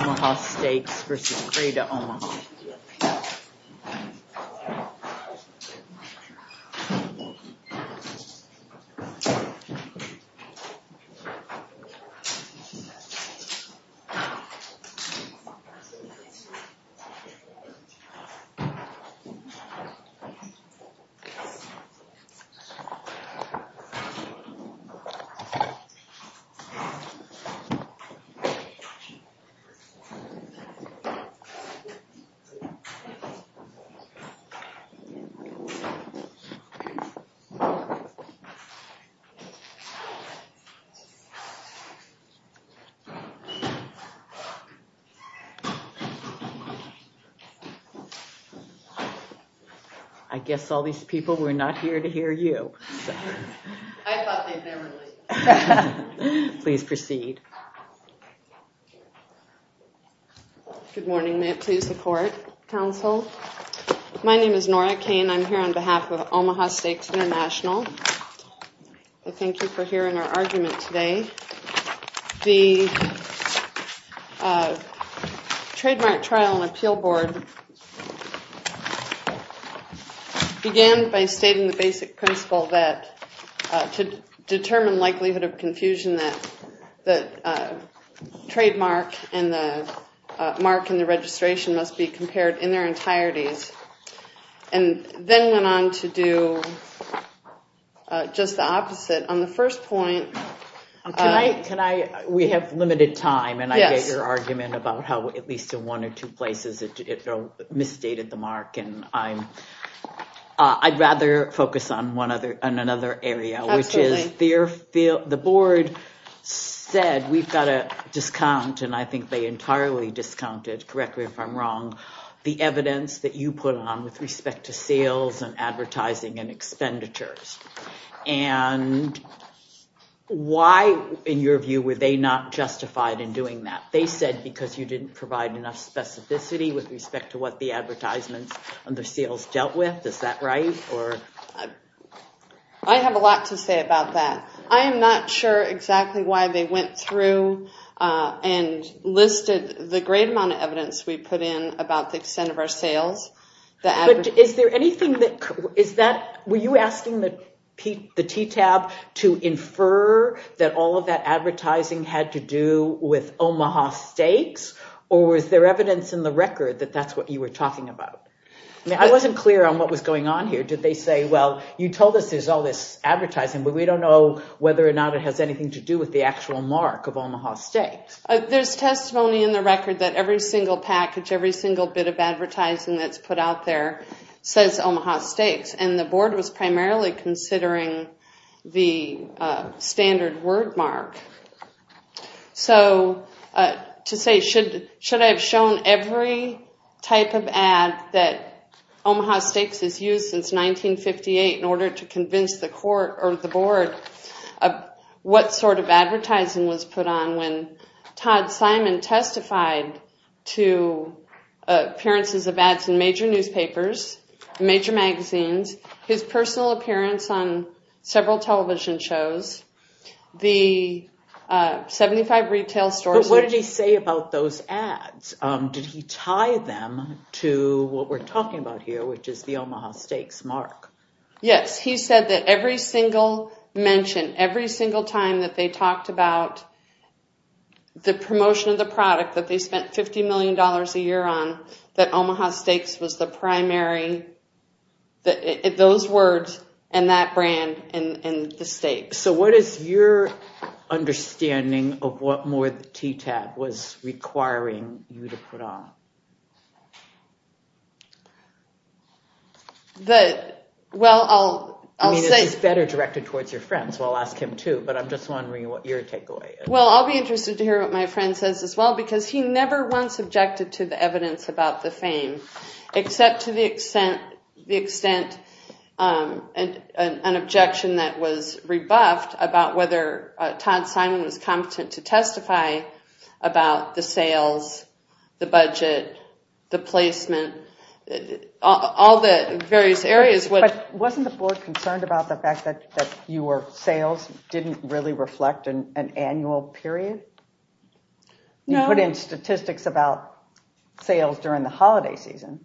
Omaha Steaks v. Greater Omaha. I guess all these people were not here to hear you. I thought they'd never leave. Please proceed. Good morning, may it please the court, counsel. My name is Nora Cain, I'm here on behalf of Omaha Steaks International. I thank you for hearing our argument today. The Trademark Trial and Appeal Board began by stating the basic principle that to determine likelihood of confusion that trademark and the mark in the registration must be compared in their entireties. And then went on to do just the opposite. We have limited time and I get your argument about how at least in one or two places it misstated the mark. I'd rather focus on another area, which is the board said we've got a discount, and I think they entirely discounted, correctly if I'm wrong, the evidence that you put on with respect to sales and advertising and expenditures. And why, in your view, were they not justified in doing that? They said because you didn't provide enough specificity with respect to what the advertisements and the sales dealt with, is that right? I have a lot to say about that. I am not sure exactly why they went through and listed the great amount of evidence we put in about the extent of our sales. Were you asking the TTAB to infer that all of that advertising had to do with Omaha Steaks, or was there evidence in the record that that's what you were talking about? I wasn't clear on what was going on here. Did they say, well, you told us there's all this advertising, but we don't know whether or not it has anything to do with the actual mark of Omaha Steaks. There's testimony in the record that every single package, every single bit of advertising that's put out there says Omaha Steaks, and the board was primarily considering the standard word mark. So to say, should I have shown every type of ad that Omaha Steaks has used since 1958 in order to convince the court or the board of what sort of advertising was put on when Todd Simon testified to appearances of ads in major newspapers, major magazines, his personal appearance on several television shows, the 75 retail stores. But what did he say about those ads? Did he tie them to what we're talking about here, which is the Omaha Steaks mark? Yes, he said that every single mention, every single time that they talked about the promotion of the product that they spent $50 million a year on, that Omaha Steaks was the primary, those words and that brand and the Steaks. So what is your understanding of what more the TTAB was requiring you to put on? Well, I'll say... I mean, it's better directed towards your friends, so I'll ask him too, but I'm just wondering what your takeaway is. Well, I'll be interested to hear what my friend says as well, because he never once objected to the evidence about the fame, except to the extent, an objection that was rebuffed about whether Todd Simon was competent to testify about the sales, the budget, the placement, all the various areas. But wasn't the board concerned about the fact that your sales didn't really reflect an annual period? No. You put in statistics about sales during the holiday season.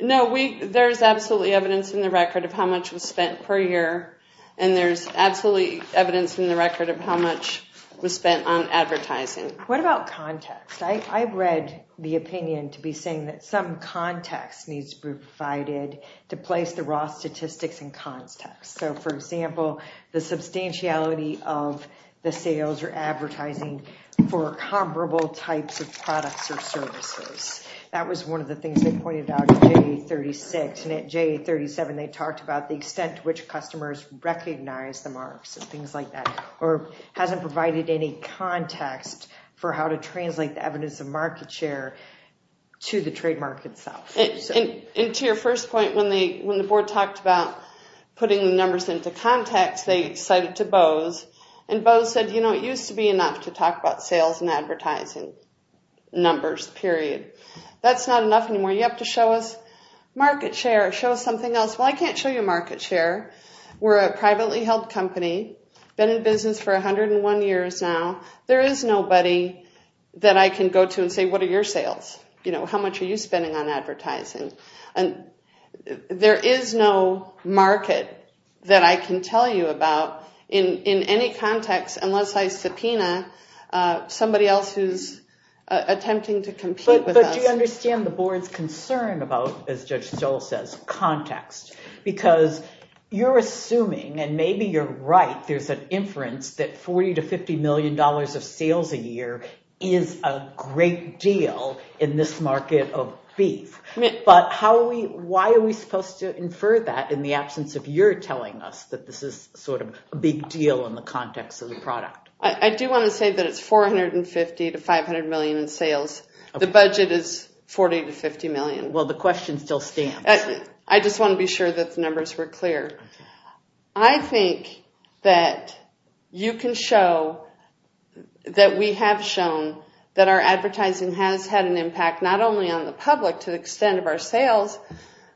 No, there's absolutely evidence in the record of how much was spent per year, and there's absolutely evidence in the record of how much was spent on advertising. What about context? I've read the opinion to be saying that some context needs to be provided to place the raw statistics in context. So, for example, the substantiality of the sales or advertising for comparable types of products or services. That was one of the things they pointed out in J36, and at J37 they talked about the extent to which customers recognize the marks and things like that, or hasn't provided any context for how to translate the evidence of market share to the trademark itself. And to your first point, when the board talked about putting the numbers into context, they cited to Bose, and Bose said, you know, it used to be enough to talk about sales and advertising numbers, period. That's not enough anymore. You have to show us market share. Show us something else. Well, I can't show you market share. We're a privately held company. Been in business for 101 years now. There is nobody that I can go to and say, what are your sales? You know, how much are you spending on advertising? There is no market that I can tell you about in any context unless I subpoena somebody else attempting to compete with us. But do you understand the board's concern about, as Judge Stoll says, context? Because you're assuming, and maybe you're right, there's an inference that $40 to $50 million of sales a year is a great deal in this market of beef. But why are we supposed to infer that in the absence of your telling us that this is sort of a big deal in the context of the product? I do want to say that it's $450 to $500 million in sales. The budget is $40 to $50 million. Well, the question still stands. I just want to be sure that the numbers were clear. I think that you can show that we have shown that our advertising has had an impact, not only on the public to the extent of our sales,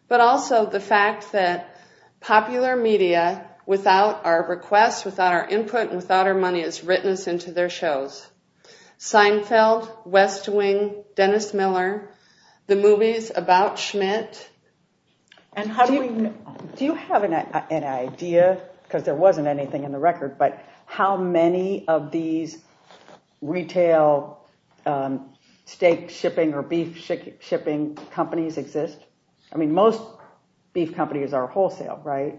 but also the fact that popular media, without our requests, without our input, and without our money, has written us into their shows. Seinfeld, West Wing, Dennis Miller, the movies about Schmidt. Do you have an idea, because there wasn't anything in the record, but how many of these retail steak shipping or beef shipping companies exist? I mean, most beef companies are wholesale, right?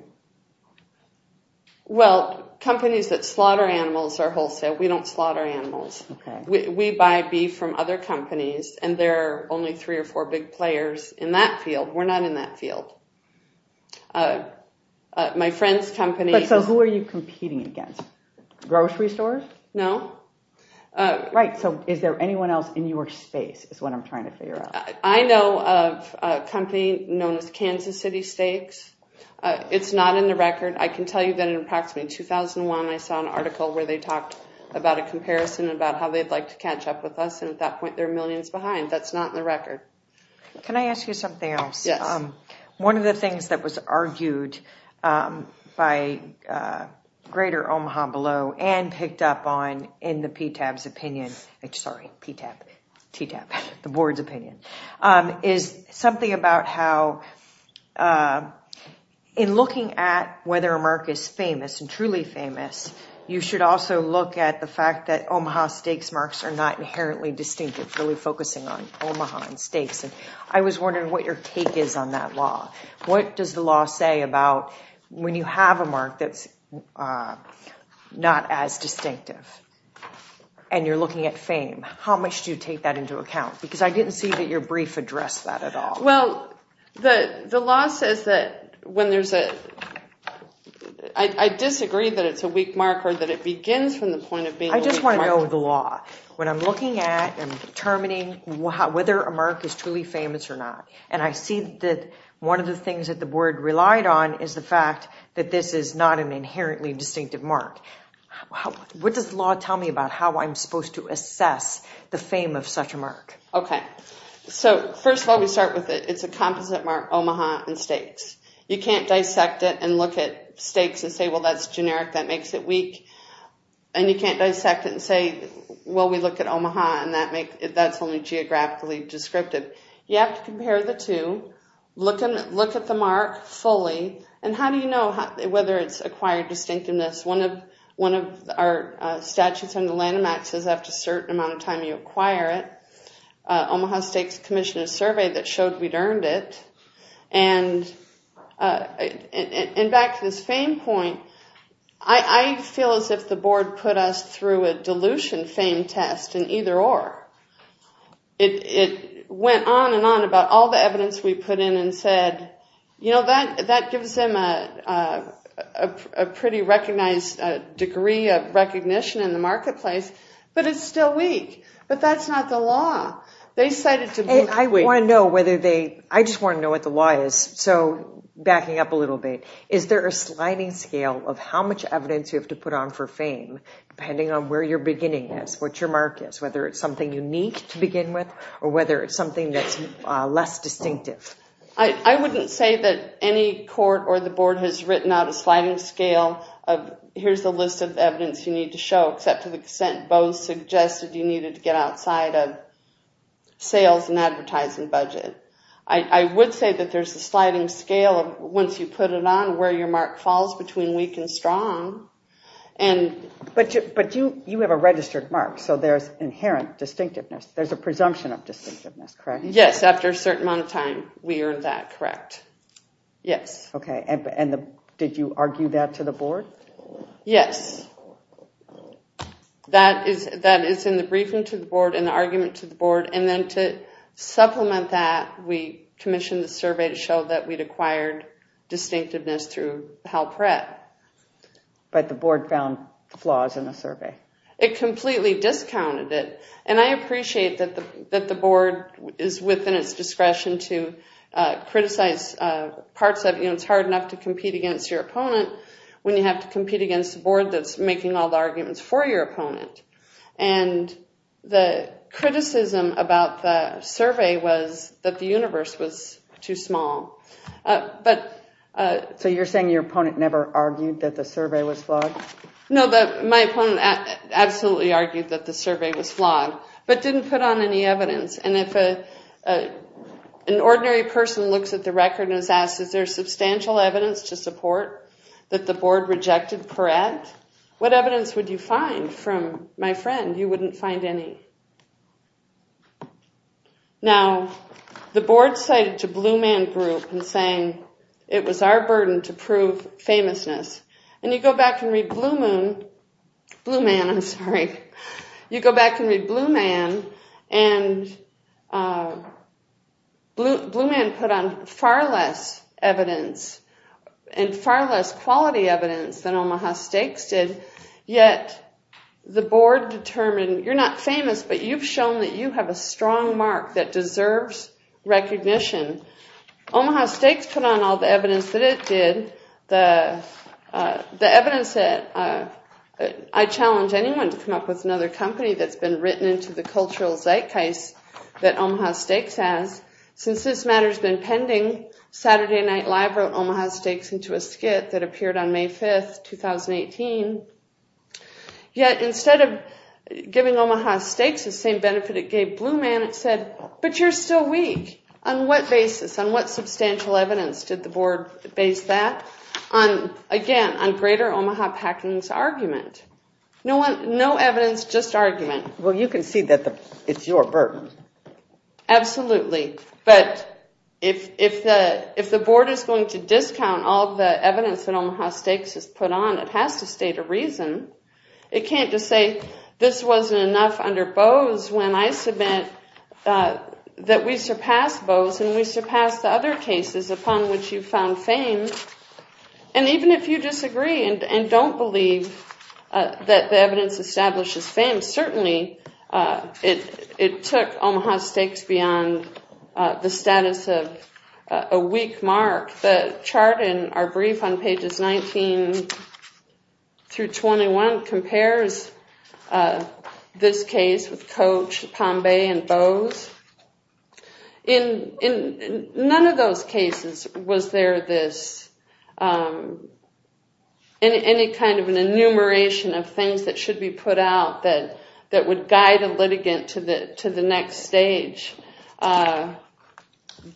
Well, companies that slaughter animals are wholesale. We don't slaughter animals. We buy beef from other companies, and there are only three or four big players in that field. We're not in that field. My friend's company— So who are you competing against? Grocery stores? No. Right. So is there anyone else in your space is what I'm trying to figure out. I know of a company known as Kansas City Steaks. It's not in the record. I can tell you that in approximately 2001, I saw an article where they talked about a comparison about how they'd like to catch up with us, and at that point, they're millions behind. That's not in the record. Can I ask you something else? Yes. One of the things that was argued by Greater Omaha Below and picked up on in the PTAB's opinion— sorry, PTAB, TTAB, the board's opinion— is something about how in looking at whether a mark is famous and truly famous, you should also look at the fact that Omaha Steaks marks are not inherently distinctive, really focusing on Omaha and Steaks. I was wondering what your take is on that law. What does the law say about when you have a mark that's not as distinctive and you're looking at fame? How much do you take that into account? Because I didn't see that your brief addressed that at all. Well, the law says that when there's a— I disagree that it's a weak mark or that it begins from the point of being a weak mark. I just want to know the law. When I'm looking at and determining whether a mark is truly famous or not, and I see that one of the things that the board relied on is the fact that this is not an inherently distinctive mark, what does the law tell me about how I'm supposed to assess the fame of such a mark? Okay. So first of all, we start with it. It's a composite mark, Omaha and Steaks. You can't dissect it and look at Steaks and say, well, that's generic, that makes it weak. And you can't dissect it and say, well, we look at Omaha and that's only geographically descriptive. You have to compare the two, look at the mark fully, and how do you know whether it's acquired distinctiveness? One of our statutes on the Lanham Act says after a certain amount of time you acquire it. Omaha and Steaks commissioned a survey that showed we'd earned it. And back to this fame point, I feel as if the board put us through a dilution fame test in either or. It went on and on about all the evidence we put in and said, you know, that gives them a pretty recognized degree of recognition in the marketplace, but it's still weak. But that's not the law. I just want to know what the law is, so backing up a little bit. Is there a sliding scale of how much evidence you have to put on for fame depending on where your beginning is, what your mark is, whether it's something unique to begin with or whether it's something that's less distinctive? I wouldn't say that any court or the board has written out a sliding scale of here's the list of evidence you need to show, except to the extent Bo suggested you needed to get outside of sales and advertising budget. I would say that there's a sliding scale of once you put it on, where your mark falls between weak and strong. But you have a registered mark, so there's inherent distinctiveness. There's a presumption of distinctiveness, correct? Yes, after a certain amount of time, we earned that, correct. Yes. Okay, and did you argue that to the board? Yes. That is in the briefing to the board and the argument to the board, and then to supplement that, we commissioned the survey to show that we'd acquired distinctiveness through HalPREP. But the board found flaws in the survey? It completely discounted it. And I appreciate that the board is within its discretion to criticize parts of it. It's hard enough to compete against your opponent when you have to compete against a board that's making all the arguments for your opponent. And the criticism about the survey was that the universe was too small. So you're saying your opponent never argued that the survey was flawed? No, my opponent absolutely argued that the survey was flawed, but didn't put on any evidence. And if an ordinary person looks at the record and is asked, is there substantial evidence to support that the board rejected PERET, what evidence would you find from my friend? You wouldn't find any. Now, the board cited to Blue Man Group in saying it was our burden to prove And you go back and read Blue Man, and Blue Man put on far less evidence and far less quality evidence than Omaha Stakes did, yet the board determined you're not famous, but you've shown that you have a strong mark that deserves recognition. Omaha Stakes put on all the evidence that it did, the evidence that I challenge anyone to come up with another company that's been written into the cultural zeitgeist that Omaha Stakes has. Since this matter's been pending, Saturday Night Live wrote Omaha Stakes into a skit that appeared on May 5, 2018. Yet instead of giving Omaha Stakes the same benefit it gave Blue Man, it said, but you're still weak. On what basis, on what substantial evidence did the board base that? Again, on greater Omaha Packing's argument. No evidence, just argument. Well, you can see that it's your burden. Absolutely. But if the board is going to discount all the evidence that Omaha Stakes has put on, it has to state a reason. It can't just say this wasn't enough under Bose when I submit that we surpass Bose and we surpass the other cases upon which you've found fame. And even if you disagree and don't believe that the evidence establishes fame, certainly it took Omaha Stakes beyond the status of a weak mark. The chart in our brief on pages 19 through 21 compares this case with Coach, Pombe, and Bose. In none of those cases was there any kind of an enumeration of things that should be put out that would guide a litigant to the next stage.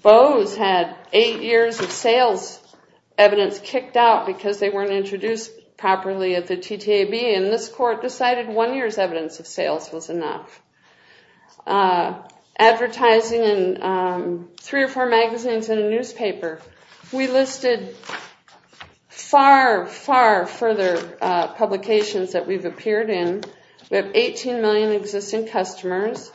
Bose had eight years of sales evidence kicked out because they weren't introduced properly at the TTAB, and this court decided one year's evidence of sales was enough. Advertising in three or four magazines and a newspaper, we listed far, far further publications that we've appeared in. We have 18 million existing customers.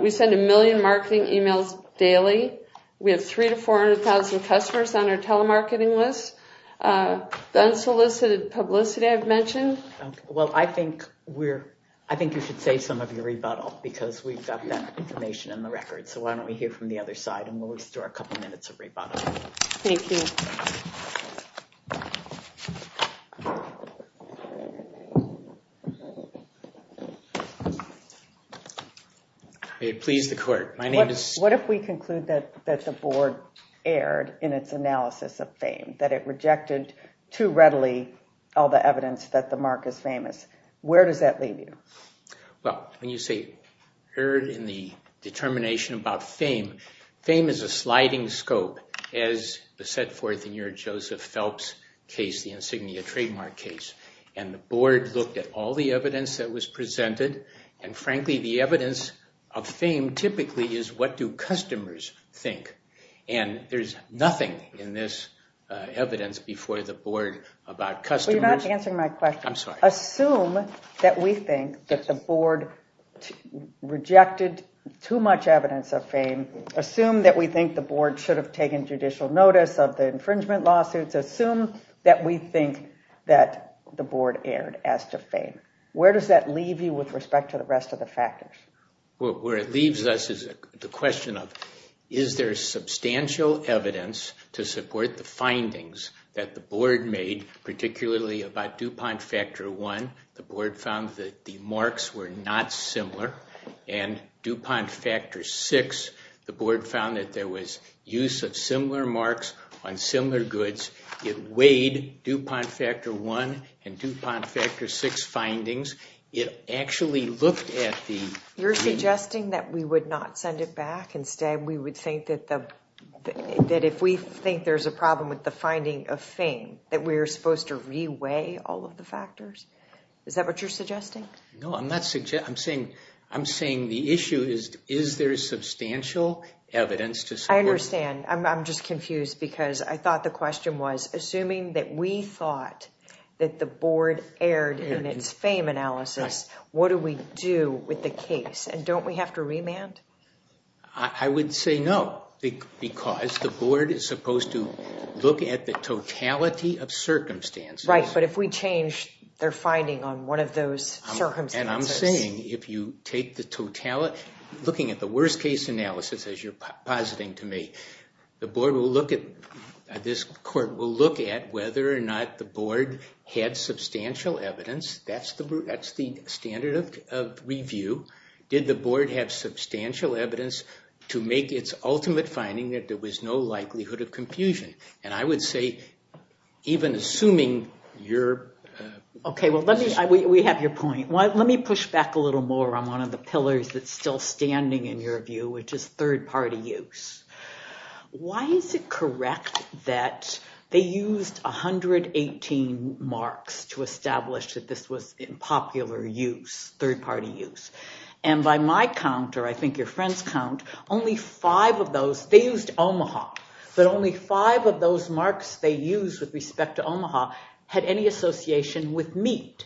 We send a million marketing emails daily. We have 300,000 to 400,000 customers on our telemarketing list. The unsolicited publicity I've mentioned. Well, I think you should save some of your rebuttal because we've got that information in the record, so why don't we hear from the other side and we'll restore a couple minutes of rebuttal. Thank you. May it please the court. What if we conclude that the board erred in its analysis of fame, that it rejected too readily all the evidence that the mark is famous? Where does that leave you? Well, when you say erred in the determination about fame, fame is a sliding scope as set forth in your Joseph Phelps case, the insignia trademark case, and the board looked at all the evidence that was presented, and frankly the evidence of fame typically is what do customers think, and there's nothing in this evidence before the board about customers. Well, you're not answering my question. I'm sorry. Assume that we think that the board rejected too much evidence of fame. Assume that we think the board should have taken judicial notice of the infringement lawsuits. Assume that we think that the board erred as to fame. Where does that leave you with respect to the rest of the factors? Well, where it leaves us is the question of, is there substantial evidence to support the findings that the board made, particularly about DuPont Factor I, the board found that the marks were not similar, and DuPont Factor VI, the board found that there was use of similar marks on similar goods. It weighed DuPont Factor I and DuPont Factor VI findings. It actually looked at the— You're suggesting that we would not send it back? Instead, we would think that if we think there's a problem with the finding of fame, that we're supposed to re-weigh all of the factors? Is that what you're suggesting? No, I'm saying the issue is, is there substantial evidence to support— I understand. I'm just confused because I thought the question was, assuming that we thought that the board erred in its fame analysis, what do we do with the case? And don't we have to remand? I would say no, because the board is supposed to look at the totality of circumstances. Right, but if we change their finding on one of those circumstances— And I'm saying if you take the totality— The board will look at— This court will look at whether or not the board had substantial evidence. That's the standard of review. Did the board have substantial evidence to make its ultimate finding that there was no likelihood of confusion? And I would say, even assuming your— Okay, well, we have your point. Let me push back a little more on one of the pillars that's still standing in your view, which is third-party use. Why is it correct that they used 118 marks to establish that this was in popular use, third-party use? And by my count, or I think your friend's count, only five of those—they used Omaha. But only five of those marks they used with respect to Omaha had any association with meat.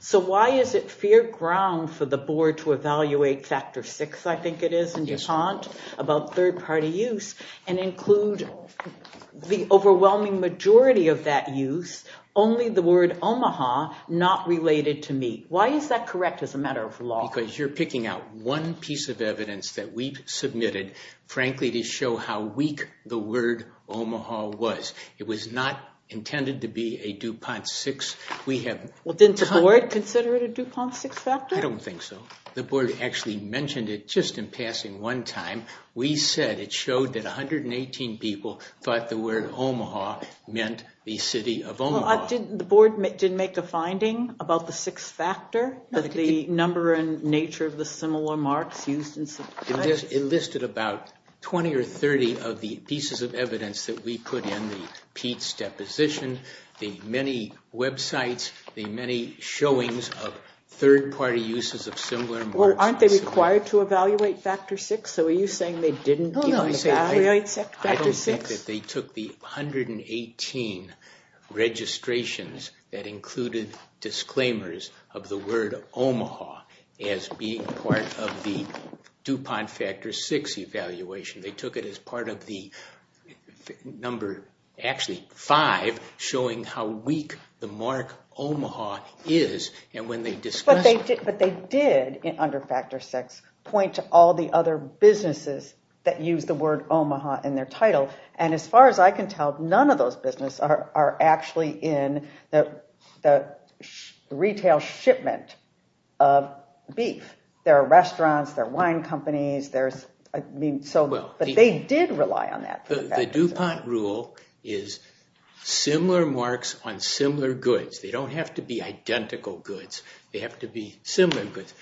So why is it fair ground for the board to evaluate factor six, I think it is, in DuPont about third-party use and include the overwhelming majority of that use, only the word Omaha, not related to meat? Why is that correct as a matter of law? Because you're picking out one piece of evidence that we've submitted, frankly, to show how weak the word Omaha was. It was not intended to be a DuPont six. Well, didn't the board consider it a DuPont six factor? I don't think so. The board actually mentioned it just in passing one time. We said it showed that 118 people thought the word Omaha meant the city of Omaha. The board did make a finding about the six factor, the number and nature of the similar marks used in— It listed about 20 or 30 of the pieces of evidence that we put in, the Pete's deposition, the many websites, the many showings of third-party uses of similar marks. Well, aren't they required to evaluate factor six? So are you saying they didn't get to evaluate factor six? I don't think that they took the 118 registrations that included disclaimers of the word Omaha as being part of the DuPont factor six evaluation. They took it as part of the number, actually five, showing how weak the mark Omaha is. But they did, under factor six, point to all the other businesses that used the word Omaha in their title. And as far as I can tell, none of those businesses are actually in the retail shipment of beef. There are restaurants. There are wine companies. But they did rely on that. The DuPont rule is similar marks on similar goods. They don't have to be identical goods. They have to be similar goods.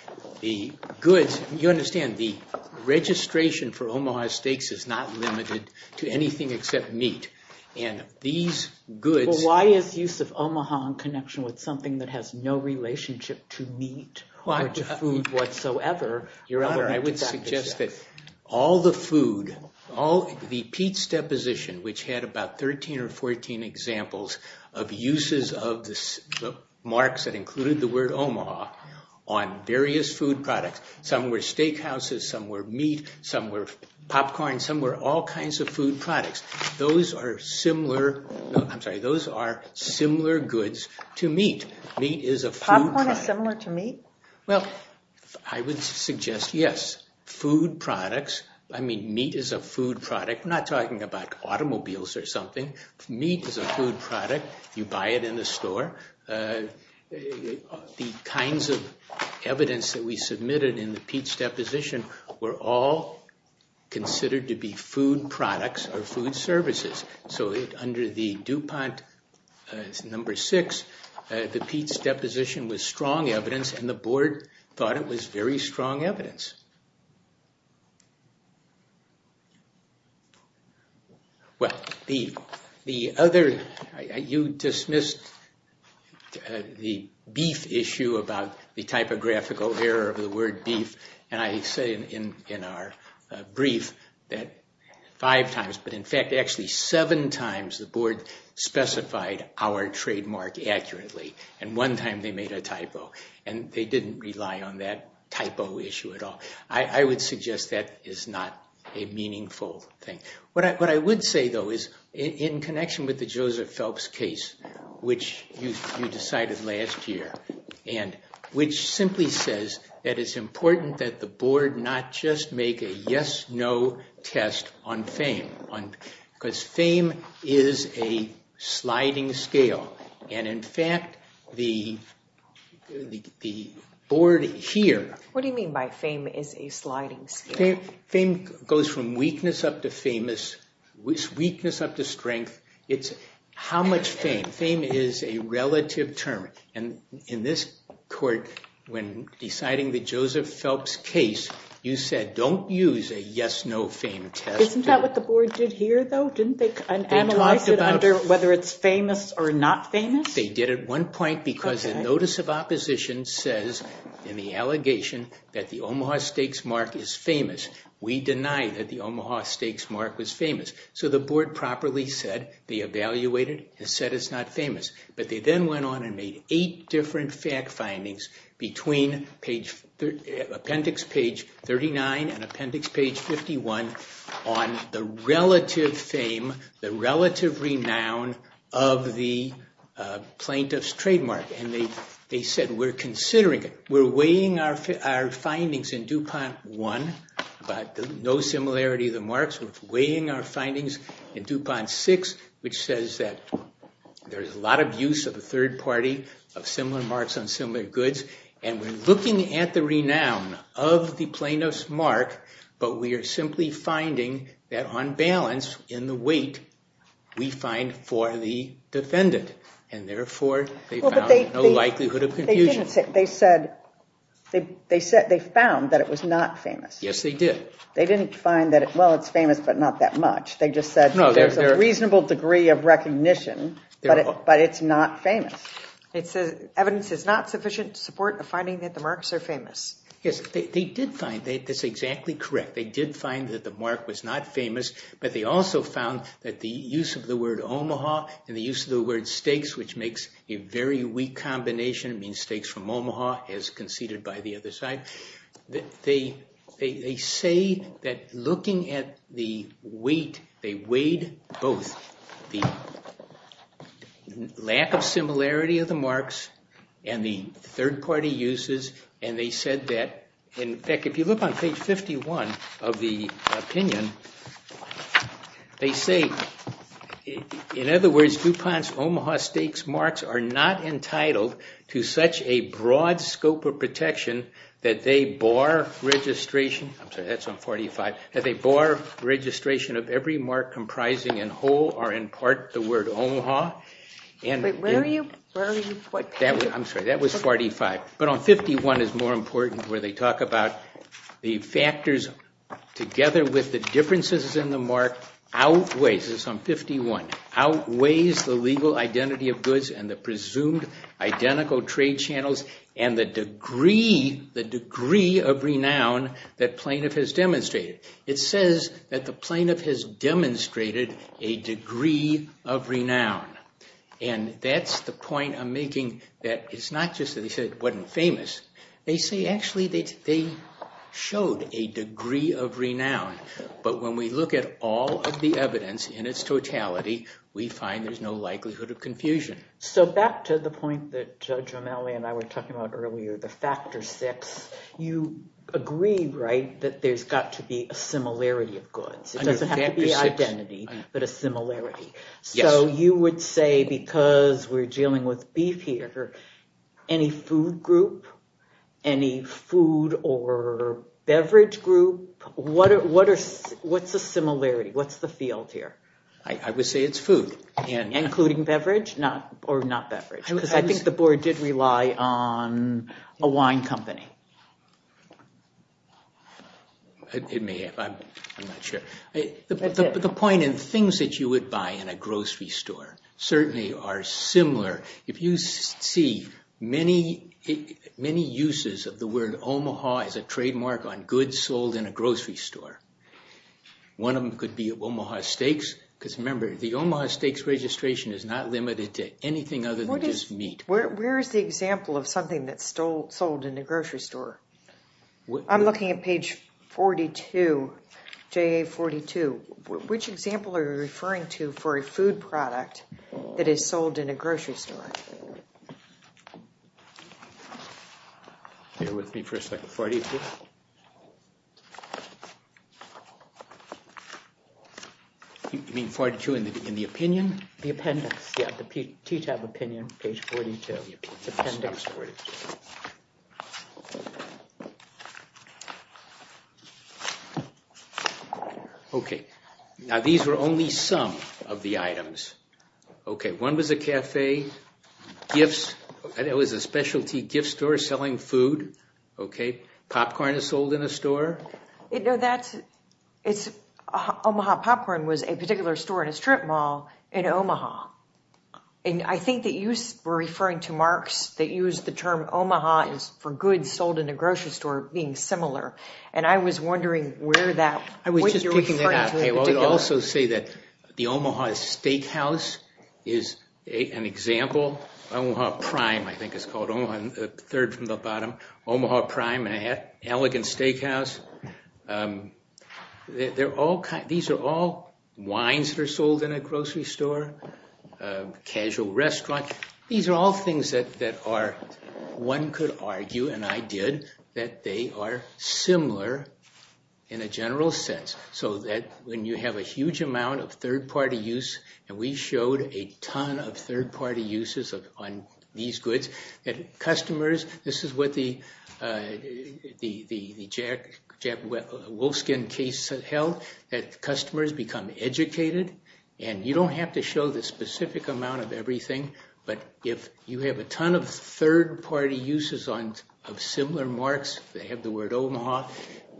The goods, you understand, the registration for Omaha steaks is not limited to anything except meat. And these goods— Well, why is use of Omaha in connection with something that has no relationship to meat or to food whatsoever? Your Honor, I would suggest that all the food, all the Pete's deposition, which had about 13 or 14 examples of uses of the marks that included the word Omaha on various food products, some were steakhouses, some were meat, some were popcorn, some were all kinds of food products. Those are similar—I'm sorry, those are similar goods to meat. Meat is a food— Popcorn is similar to meat? Well, I would suggest, yes, food products. I mean, meat is a food product. We're not talking about automobiles or something. Meat is a food product. You buy it in the store. The kinds of evidence that we submitted in the Pete's deposition were all considered to be food products or food services. So under the DuPont number six, the Pete's deposition was strong evidence, and the Board thought it was very strong evidence. Well, the other—you dismissed the beef issue about the typographical error of the word beef, and I say in our brief that five times, but in fact actually seven times, the Board specified our trademark accurately, and one time they made a typo, and they didn't rely on that typo issue at all. I would suggest that is not a meaningful thing. What I would say, though, is in connection with the Joseph Phelps case, which you decided last year, and which simply says that it's important that the Board not just make a yes-no test on fame, because fame is a sliding scale, and in fact the Board here— What do you mean by fame is a sliding scale? Fame goes from weakness up to strength. It's how much fame. Fame is a relative term, and in this court, when deciding the Joseph Phelps case, you said don't use a yes-no fame test. Isn't that what the Board did here, though? Didn't they analyze it under whether it's famous or not famous? They did at one point, because the notice of opposition says in the allegation that the Omaha Steaks mark is famous. We deny that the Omaha Steaks mark was famous, so the Board properly said they evaluated it and said it's not famous, but they then went on and made eight different fact findings between appendix page 39 and appendix page 51 on the relative fame, the relative renown of the plaintiff's trademark, and they said we're considering it. We're weighing our findings in DuPont I, but no similarity of the marks. We're weighing our findings in DuPont VI, which says that there's a lot of use of a third party of similar marks on similar goods, and we're looking at the renown of the plaintiff's mark, but we are simply finding that on balance in the weight we find for the defendant, and therefore they found no likelihood of confusion. They found that it was not famous. Yes, they did. They didn't find that, well, it's famous, but not that much. They just said there's a reasonable degree of recognition, but it's not famous. It says evidence is not sufficient to support the finding that the marks are famous. Yes, they did find that. That's exactly correct. They did find that the mark was not famous, but they also found that the use of the word Omaha and the use of the word stakes, which makes a very weak combination, it means stakes from Omaha as conceded by the other side, they say that looking at the weight, they weighed both the lack of similarity of the marks and the third party uses, and they said that, in fact, if you look on page 51 of the opinion, they say, in other words, DuPont's Omaha stakes marks are not entitled to such a broad scope of protection that they bar registration. I'm sorry, that's on 45. That they bar registration of every mark comprising in whole or in part the word Omaha. Wait, where are you? I'm sorry, that was 45. But on 51 is more important where they talk about the factors together with the differences in the mark outweighs, this is on 51, outweighs the legal identity of goods and the presumed identical trade channels and the degree, the degree of renown that plaintiff has demonstrated. It says that the plaintiff has demonstrated a degree of renown, and that's the point I'm making that it's not just that they said it wasn't famous, they say actually they showed a degree of renown, but when we look at all of the evidence in its totality, we find there's no likelihood of confusion. So back to the point that Judge O'Malley and I were talking about earlier, the factor six, you agree, right, that there's got to be a similarity of goods. It doesn't have to be identity, but a similarity. So you would say because we're dealing with beef here, any food group, any food or beverage group, what's the similarity, what's the field here? I would say it's food. Including beverage or not beverage? Because I think the board did rely on a wine company. It may have, I'm not sure. But the point in things that you would buy in a grocery store certainly are similar. If you see many uses of the word Omaha as a trademark on goods sold in a grocery store, one of them could be Omaha Steaks, because remember, the Omaha Steaks registration is not limited to anything other than just meat. Where is the example of something that's sold in a grocery store? I'm looking at page 42, JA42. Which example are you referring to for a food product that is sold in a grocery store? Bear with me for a second, 42? You mean 42 in the opinion? The appendix, yeah, the TTAB opinion, page 42. The appendix. Okay, now these were only some of the items. Okay, one was a cafe. Gifts, it was a specialty gift store selling food. Okay, popcorn is sold in a store. No, that's, it's Omaha popcorn was a particular store in a strip mall in Omaha. And I think that you were referring to marks that used the term Omaha for goods sold in a grocery store. Being similar. And I was wondering where that, what you were referring to in particular. I would also say that the Omaha Steakhouse is an example. Omaha Prime, I think it's called Omaha, the third from the bottom. Omaha Prime, an elegant steakhouse. They're all, these are all wines that are sold in a grocery store. Casual restaurant. These are all things that are, one could argue, and I did, that they are similar in a general sense. So that when you have a huge amount of third-party use, and we showed a ton of third-party uses on these goods, that customers, this is what the Jack Wolfskin case held, that customers become educated, and you don't have to show the specific amount of everything, but if you have a ton of third-party uses of similar marks, they have the word Omaha,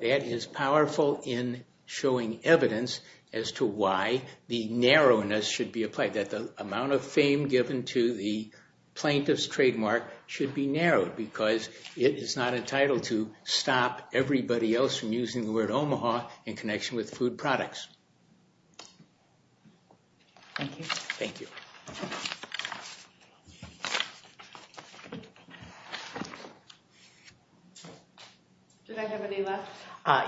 that is powerful in showing evidence as to why the narrowness should be applied, that the amount of fame given to the plaintiff's trademark should be narrowed, because it is not entitled to stop everybody else from using the word Omaha in connection with food products. Thank you. Thank you. Did I have any left?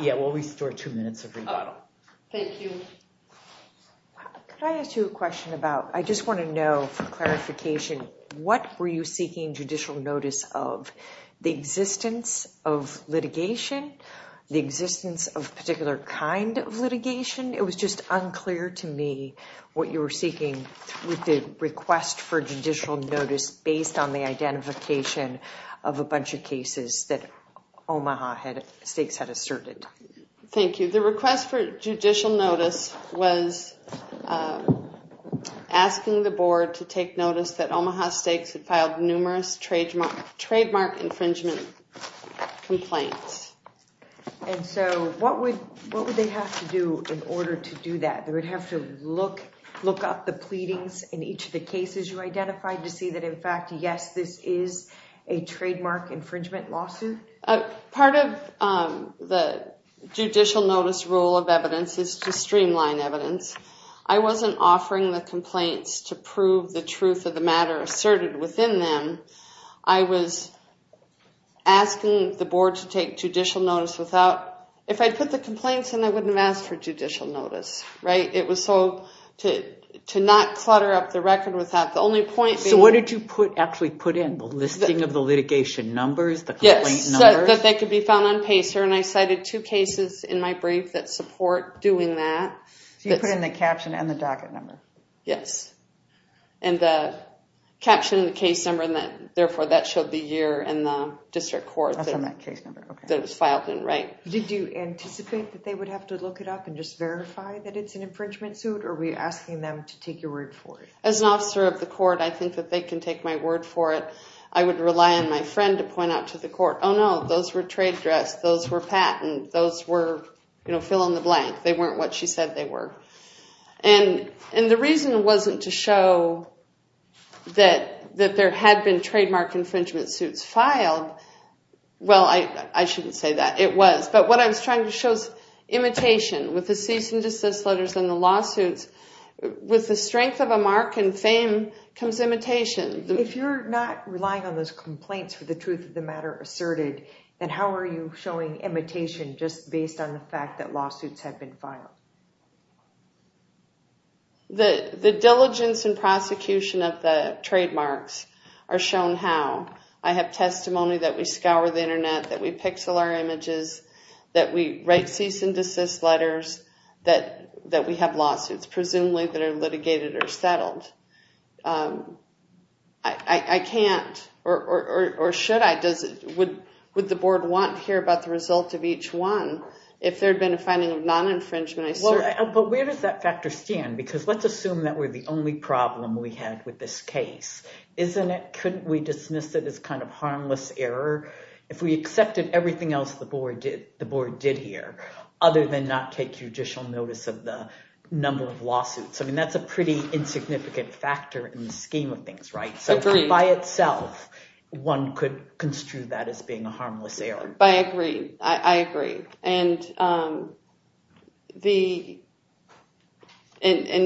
Yeah, we'll restore two minutes of rebuttal. Oh, thank you. Could I ask you a question about, I just want to know for clarification, what were you seeking judicial notice of? The existence of litigation? The existence of a particular kind of litigation? It was just unclear to me what you were seeking with the request for judicial notice based on the identification of a bunch of cases that Omaha stakes had asserted. Thank you. The request for judicial notice was asking the board to take notice that Omaha stakes had filed numerous trademark infringement complaints. And so what would they have to do in order to do that? They would have to look up the pleadings in each of the cases you identified to see that in fact, yes, this is a trademark infringement lawsuit? Part of the judicial notice rule of evidence is to streamline evidence. I wasn't offering the complaints to prove the truth of the matter asserted within them. I was asking the board to take judicial notice without, if I'd put the complaints in, I wouldn't have asked for judicial notice, right? It was so, to not clutter up the record without the only point being... So what did you actually put in? The listing of the litigation numbers, the complaint numbers? Yes, that they could be found on PACER. And I cited two cases in my brief that support doing that. So you put in the caption and the docket number? Yes. And the caption and the case number, and therefore that showed the year and the district court that it was filed in, right? Did you anticipate that they would have to look it up and just verify that it's an infringement suit or were you asking them to take your word for it? As an officer of the court, I think that they can take my word for it. I would rely on my friend to point out to the court, oh, no, those were trade dress, those were patent, those were fill in the blank. They weren't what she said they were. And the reason it wasn't to show that there had been trademark infringement suits filed, well, I shouldn't say that. It was. But what I was trying to show is imitation. With the cease and desist letters and the lawsuits, with the strength of a mark and fame comes imitation. If you're not relying on those complaints for the truth of the matter asserted, then how are you showing imitation just based on the fact that lawsuits have been filed? The diligence and prosecution of the trademarks are shown how. I have testimony that we scour the internet, that we pixel our images, that we write cease and desist letters, that we have lawsuits, presumably that are litigated or settled. I can't, or should I, would the board want to hear about the result of each one if there had been a finding of non-infringement? But where does that factor stand? Because let's assume that we're the only problem we had with this case. Isn't it, couldn't we dismiss it as kind of harmless error? If we accepted everything else the board did here other than not take judicial notice of the number of lawsuits. I mean, that's a pretty insignificant factor in the scheme of things, right? So by itself, one could construe that as being a harmless error. I agree. I agree. And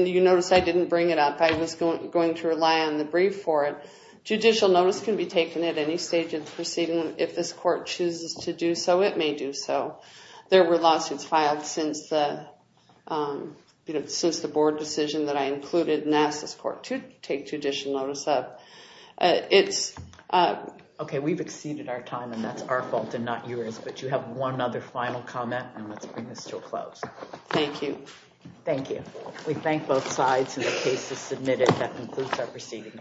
you notice I didn't bring it up. I was going to rely on the brief for it. Judicial notice can be taken at any stage of the proceeding. If this court chooses to do so, it may do so. There were lawsuits filed since the, since the board decision that I included and asked this court to take judicial notice of. It's... Okay, we've exceeded our time and that's our fault and not yours. But you have one other final comment and let's bring this to a close. Thank you. Thank you. We thank both sides and the case is submitted. That concludes our proceeding.